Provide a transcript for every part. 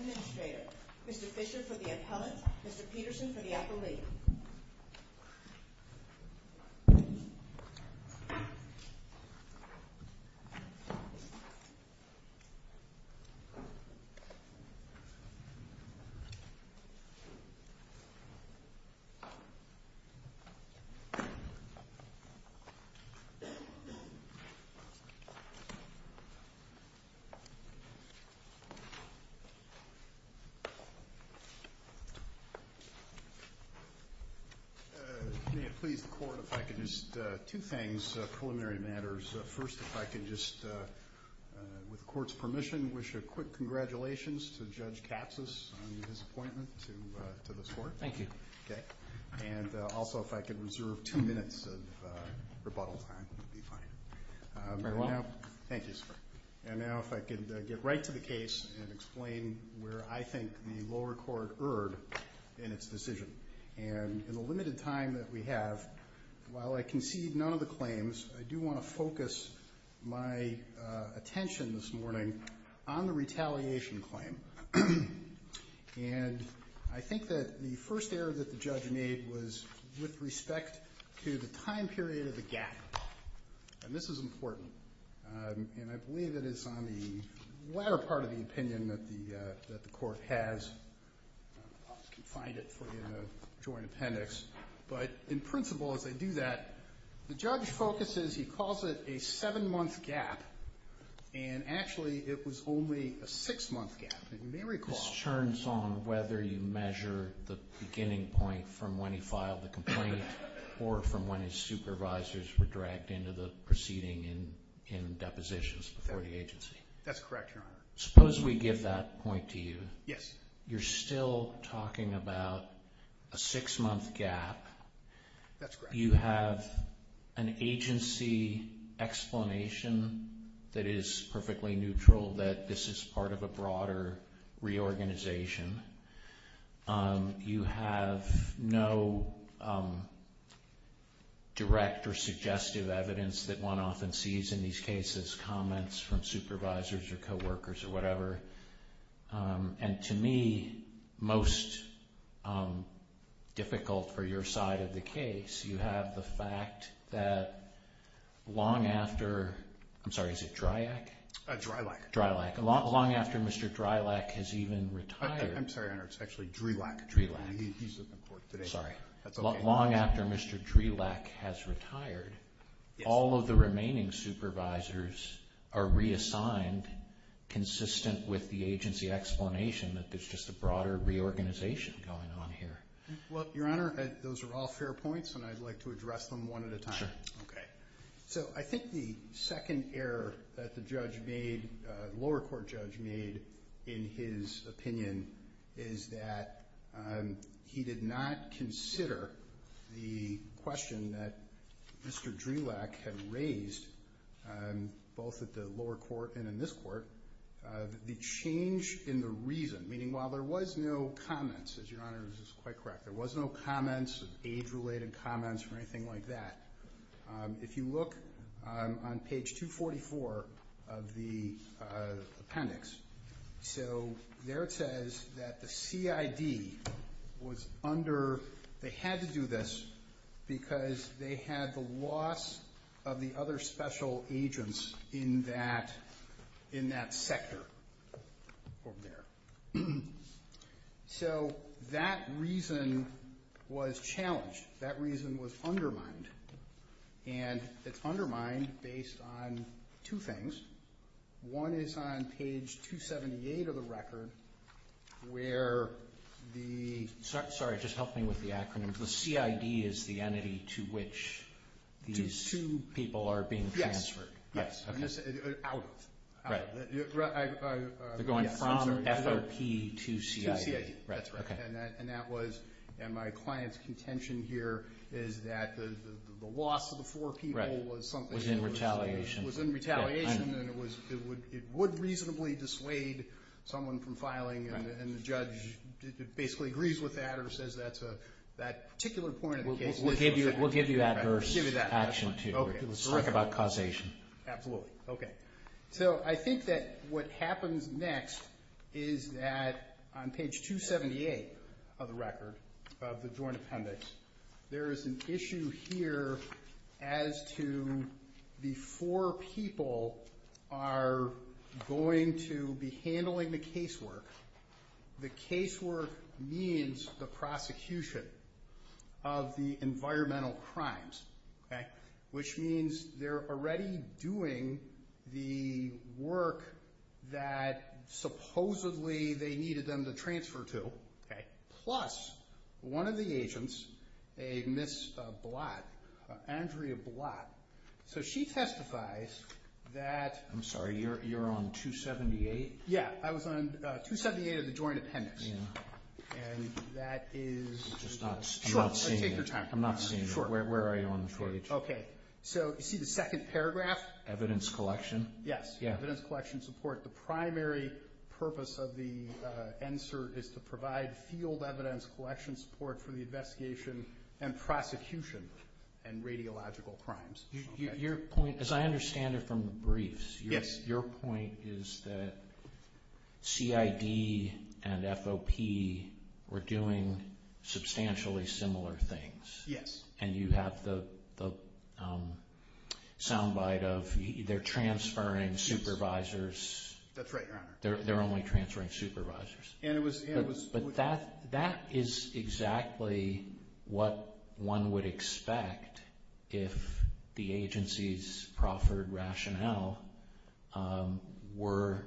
Administrator, Mr. Fischer for the appellant, Mr. Peterson for the appellee. May it please the court if I could just, two things, preliminary matters. First, if I could just, with the court's permission, wish a quick congratulations to Judge Katsas on his appointment to this court. Thank you. And also if I could reserve two minutes of rebuttal time, that would be fine. Very well. Thank you, sir. And now if I could get right to the case and explain where I think the lower court erred in its decision. And in the limited time that we have, while I concede none of the claims, I do want to focus my attention this morning on the retaliation claim. And I think that the first error that the judge made was with respect to the time period of the gap. And this is important. And I believe it is on the latter part of the opinion that the court has. I can find it for you in the joint appendix. But in principle as I do that, the judge focuses, he calls it a seven-month gap, and actually it was only a six-month gap. And you may recall. This turns on whether you measure the beginning point from when he filed the complaint or from when his supervisors were dragged into the proceeding in depositions before the agency. That's correct, Your Honor. Suppose we give that point to you. Yes. You're still talking about a six-month gap. That's correct. You have an agency explanation that is perfectly neutral, that this is part of a broader reorganization. You have no direct or suggestive evidence that one often sees in these cases, comments from supervisors or coworkers or whatever. And to me, most difficult for your side of the case, you have the fact that long after, I'm sorry, is it Dryack? Drylack. Drylack. Long after Mr. Drylack has even retired. I'm sorry, Your Honor. It's actually Drelack. Drelack. He's at the court today. Sorry. That's okay. Long after Mr. Drelack has retired, all of the remaining supervisors are reassigned consistent with the agency explanation that there's just a broader reorganization going on here. Well, Your Honor, those are all fair points, and I'd like to address them one at a time. Sure. Okay. So I think the second error that the judge made, lower court judge made, in his opinion, is that he did not consider the question that Mr. Drelack had raised, both at the lower court and in this court, the change in the reason, meaning while there was no comments, as Your Honor is quite correct, there was no comments, age-related comments or anything like that. If you look on page 244 of the appendix, so there it says that the CID was under, they had to do this because they had the loss of the other special agents in that sector over there. So that reason was challenged. That reason was undermined, and it's undermined based on two things. One is on page 278 of the record where the... Sorry, just help me with the acronym. The CID is the entity to which these people are being transferred. Yes. Okay. Out of. They're going from FRP to CID. To CID. That's right. Okay. And that was, and my client's contention here is that the loss of the four people was something... Was in retaliation. Was in retaliation, and it would reasonably dissuade someone from filing, and the judge basically agrees with that or says that's a, that particular point of the case... We'll give you that version. We'll give you that version. We'll talk about causation. Absolutely. Okay. So I think that what happens next is that on page 278 of the record, of the joint appendix, there is an issue here as to the four people are going to be handling the casework. The casework means the prosecution of the environmental crimes, okay, which means they're already doing the work that supposedly they needed them to transfer to, okay, plus one of the agents, a Ms. Blatt, Andrea Blatt, so she testifies that... I'm sorry. You're on 278? Yeah. I was on 278 of the joint appendix, and that is... I'm just not seeing it. Sure. Take your time. I'm not seeing it. Sure. Where are you on the page? Okay. So you see the second paragraph? Evidence collection? Yes. Yeah. Evidence collection support. The primary purpose of the NSERT is to provide field evidence collection support for the investigation and prosecution and radiological crimes. Your point, as I understand it from the briefs... Yes. Your point is that CID and FOP were doing substantially similar things. Yes. And you have the sound bite of they're transferring supervisors. That's right, Your Honor. They're only transferring supervisors. And it was... But that is exactly what one would expect if the agency's proffered rationale were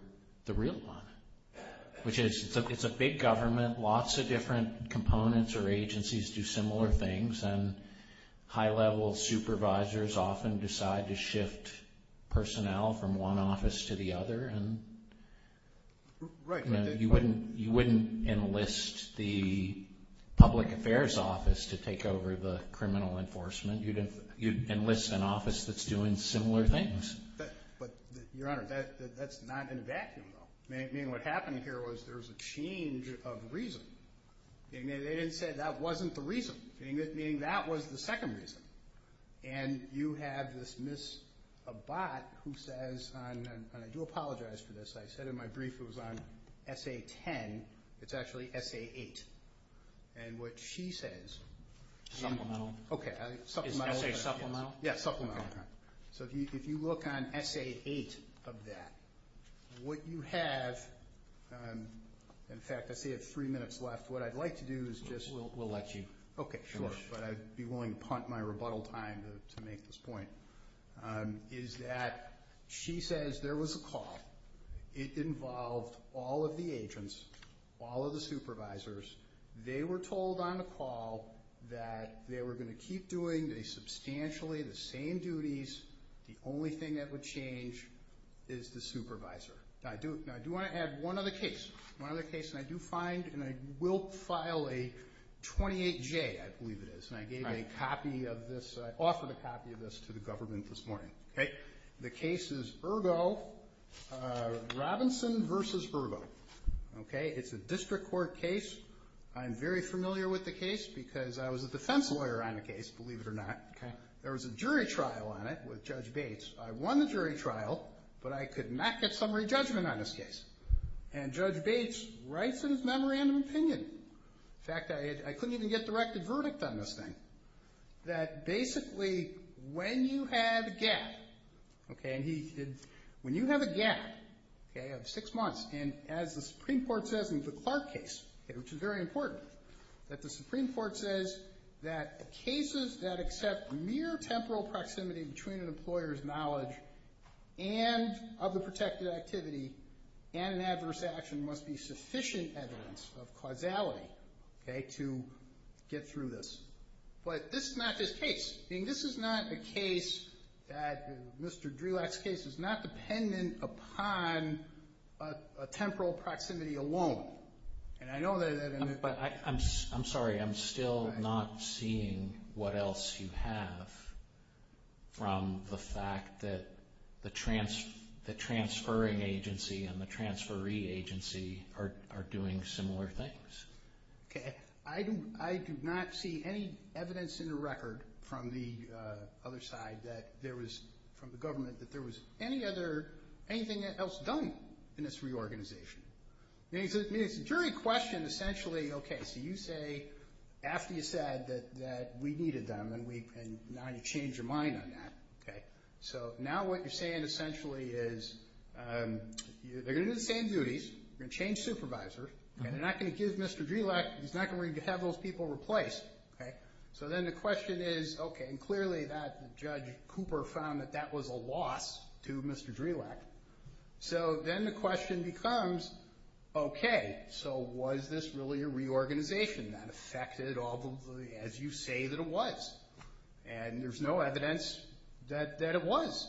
the real one, which is it's a big government. Lots of different components or agencies do similar things, and high-level supervisors often decide to shift personnel from one office to the other. Right. You wouldn't enlist the public affairs office to take over the criminal enforcement. You'd enlist an office that's doing similar things. But, Your Honor, that's not in a vacuum, though. Meaning what happened here was there was a change of reason. Meaning they didn't say that wasn't the reason. Meaning that was the second reason. And you have this Ms. Abbott who says, and I do apologize for this, I said in my brief it was on SA-10. It's actually SA-8. And what she says... Supplemental. Okay. Supplemental. Is SA supplemental? Yes, supplemental. Okay. So if you look on SA-8 of that, what you have... In fact, I see I have three minutes left. What I'd like to do is just... We'll let you finish. Okay, sure. But I'd be willing to punt my rebuttal time to make this point. Is that she says there was a call. It involved all of the agents, all of the supervisors. They were told on the call that they were going to keep doing substantially the same duties. The only thing that would change is the supervisor. Now, I do want to add one other case. One other case, and I do find and I will file a 28-J, I believe it is. And I gave a copy of this. I offered a copy of this to the government this morning. Okay. The case is Ergo, Robinson v. Ergo. Okay. It's a district court case. I'm very familiar with the case because I was a defense lawyer on the case, believe it or not. Okay. There was a jury trial on it with Judge Bates. I won the jury trial, but I could not get summary judgment on this case. And Judge Bates writes in his memorandum of opinion, in fact, I couldn't even get directed verdict on this thing, that basically when you have a gap, okay, and he did... When you have a gap, okay, of six months, and as the Supreme Court says in the Clark case, which is very important, that the Supreme Court says that cases that accept mere temporal proximity between an employer's knowledge and of the protected activity and an adverse action must be sufficient evidence of causality, okay, to get through this. But this is not this case. This is not a case that Mr. Drelak's case is not dependent upon a temporal proximity alone. And I know that... I'm sorry. I'm still not seeing what else you have from the fact that the transferring agency and the transferee agency are doing similar things. Okay. I do not see any evidence in the record from the other side that there was, from the government, that there was any other, anything else done in this reorganization. I mean, it's a jury question, essentially, okay, so you say, after you said that we needed them and now you change your mind on that, okay. So now what you're saying essentially is they're going to do the same duties, they're going to change supervisors, and they're not going to give Mr. Drelak, he's not going to have those people replaced, okay. So then the question is, okay, and clearly that Judge Cooper found that that was a loss to Mr. Drelak. So then the question becomes, okay, so was this really a reorganization that affected all the, as you say, that it was? And there's no evidence that it was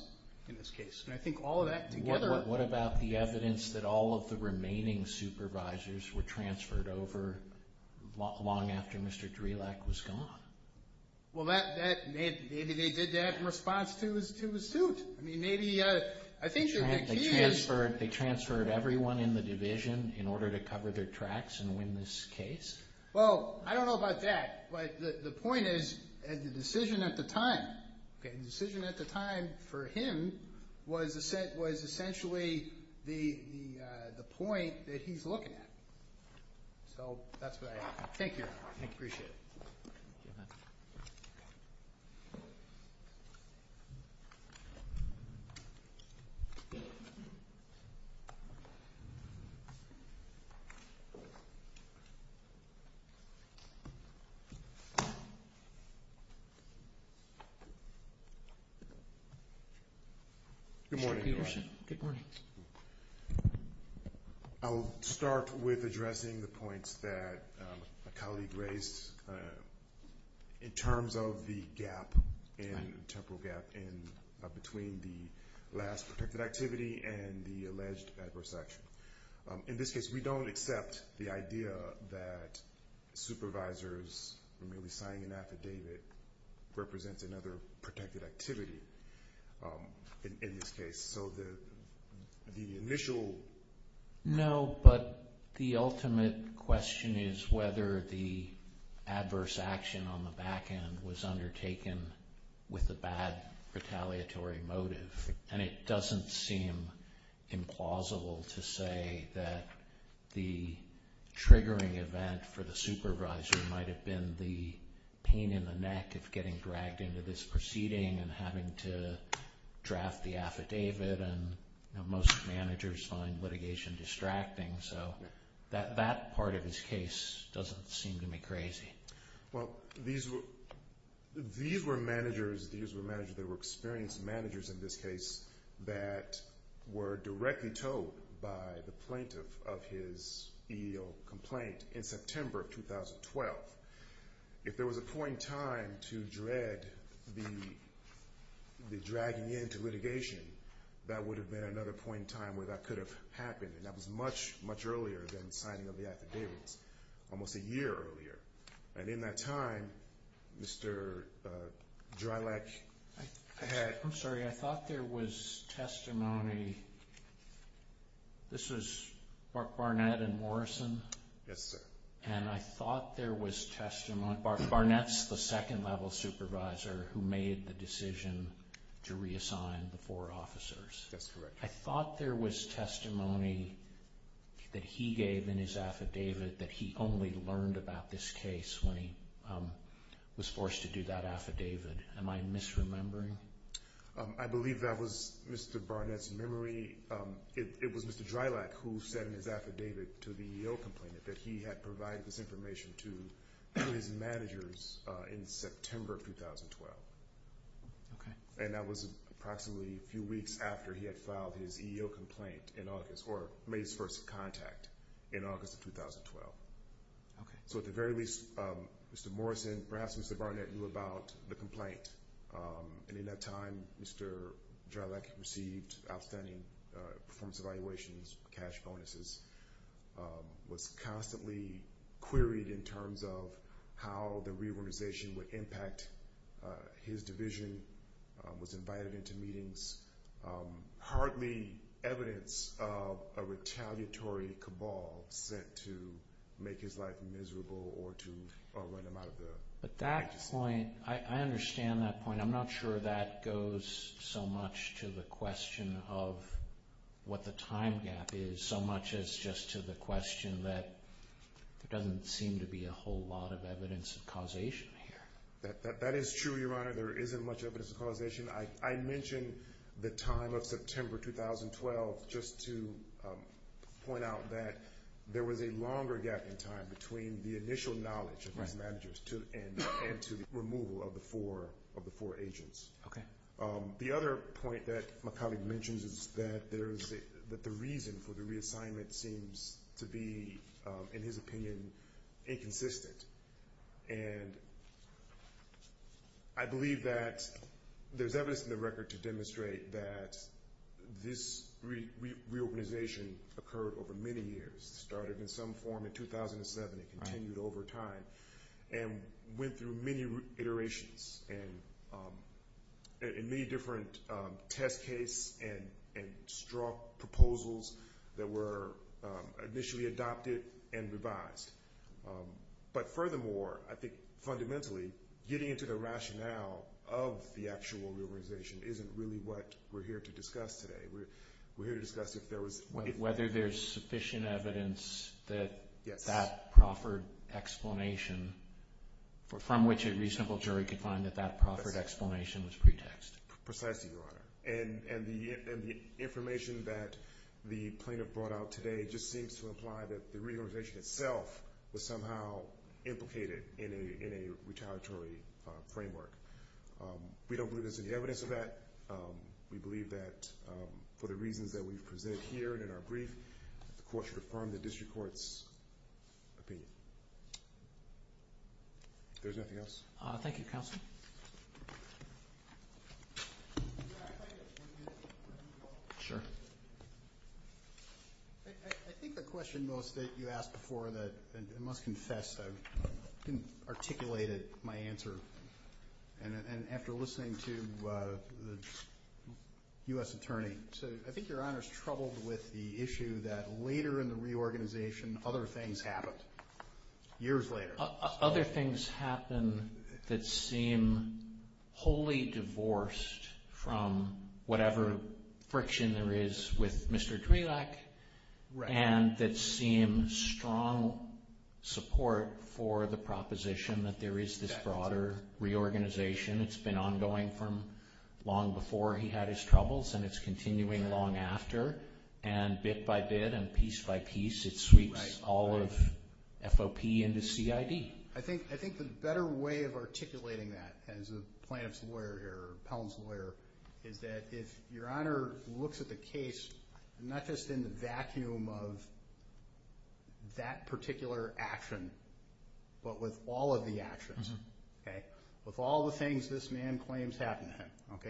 in this case. And I think all of that together... The remaining supervisors were transferred over long after Mr. Drelak was gone. Well, maybe they did that in response to his suit. I mean, maybe, I think the key is... They transferred everyone in the division in order to cover their tracks and win this case. Well, I don't know about that, but the point is, the decision at the time, okay, that's the point that he's looking at. So that's what I have. Thank you. I appreciate it. Thank you. Good morning. Good morning. I'll start with addressing the points that a colleague raised in terms of the gap, the temporal gap between the last protected activity and the alleged adverse action. In this case, we don't accept the idea that supervisors who may be signing an affidavit represents another protected activity in this case. So the initial... No, but the ultimate question is whether the adverse action on the back end was undertaken with a bad retaliatory motive. And it doesn't seem implausible to say that the triggering event for the supervisor might have been the pain in the neck of getting dragged into this proceeding and having to draft the affidavit. And most managers find litigation distracting. So that part of his case doesn't seem to me crazy. Well, these were managers that were experienced managers in this case that were directly told by the plaintiff of his EEO complaint in September of 2012. If there was a point in time to dread the dragging into litigation, that would have been another point in time where that could have happened. And that was much, much earlier than signing of the affidavits, almost a year earlier. And in that time, Mr. Dreilich had... I'm sorry. I thought there was testimony. This is Mark Barnett and Morrison. Yes, sir. And I thought there was testimony. Mark Barnett's the second-level supervisor who made the decision to reassign the four officers. That's correct. I thought there was testimony that he gave in his affidavit that he only learned about this case when he was forced to do that affidavit. Am I misremembering? I believe that was Mr. Barnett's memory. It was Mr. Dreilich who said in his affidavit to the EEO complainant that he had provided this information to his managers in September of 2012. Okay. And that was approximately a few weeks after he had filed his EEO complaint in August or made his first contact in August of 2012. Okay. So at the very least, Mr. Morrison, perhaps Mr. Barnett, knew about the complaint. And in that time, Mr. Dreilich received outstanding performance evaluations, cash bonuses, was constantly queried in terms of how the reorganization would impact his division, was invited into meetings, hardly evidence of a retaliatory cabal set to make his life miserable or to run him out of the agency. But that point, I understand that point. I'm not sure that goes so much to the question of what the time gap is so much as just to the question that there doesn't seem to be a whole lot of evidence of causation here. That is true, Your Honor. There isn't much evidence of causation. I mentioned the time of September 2012 just to point out that there was a longer gap in time between the initial knowledge of his managers and to the removal of the four agents. Okay. The other point that my colleague mentions is that the reason for the reassignment seems to be, in his opinion, inconsistent. And I believe that there's evidence in the record to demonstrate that this reorganization occurred over many years. It started in some form in 2007 and continued over time and went through many iterations and many different test case and strong proposals that were initially adopted and revised. But furthermore, I think fundamentally, getting into the rationale of the actual reorganization isn't really what we're here to discuss today. We're here to discuss whether there's sufficient evidence that that proffered explanation, from which a reasonable jury could find that that proffered explanation was pretext. Precisely, Your Honor. And the information that the plaintiff brought out today just seems to imply that the reorganization itself was somehow implicated in a retaliatory framework. We don't believe there's any evidence of that. We believe that for the reasons that we've presented here and in our brief, the Court should affirm the District Court's opinion. If there's nothing else. Thank you, Counsel. Sure. I think the question most that you asked before that, and must confess, I didn't articulate it, my answer. And after listening to the U.S. Attorney, I think Your Honor's troubled with the issue that later in the reorganization, other things happened. Years later. Other things happened that seem wholly divorced from whatever friction there is with Mr. Drelak, and that seem strong support for the proposition that there is this broader reorganization. It's been ongoing from long before he had his troubles, and it's continuing long after. And bit by bit and piece by piece, it sweeps all of FOP into CID. I think the better way of articulating that as a plaintiff's lawyer here, or appellant's lawyer, is that if Your Honor looks at the case, not just in the vacuum of that particular action, but with all of the actions, with all the things this man claims happened to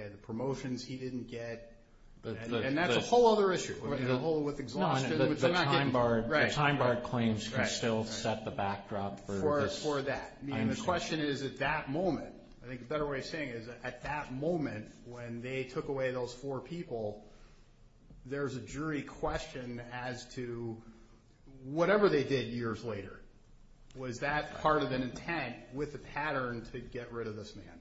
him, the promotions he didn't get, and that's a whole other issue. The whole with exhaustion. The time bar claims can still set the backdrop for this. For that. The question is at that moment. I think a better way of saying it is at that moment when they took away those four people, there's a jury question as to whatever they did years later. Was that part of an intent with a pattern to get rid of this man?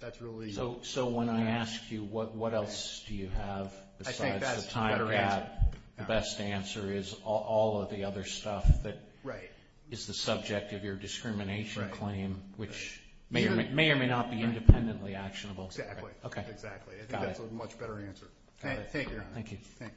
That's really. So when I ask you what else do you have besides the time gap, the best answer is all of the other stuff that is the subject of your discrimination. Right. Which may or may not be independently actionable. Exactly. Exactly. I think that's a much better answer. Thank you, Your Honor. Thank you.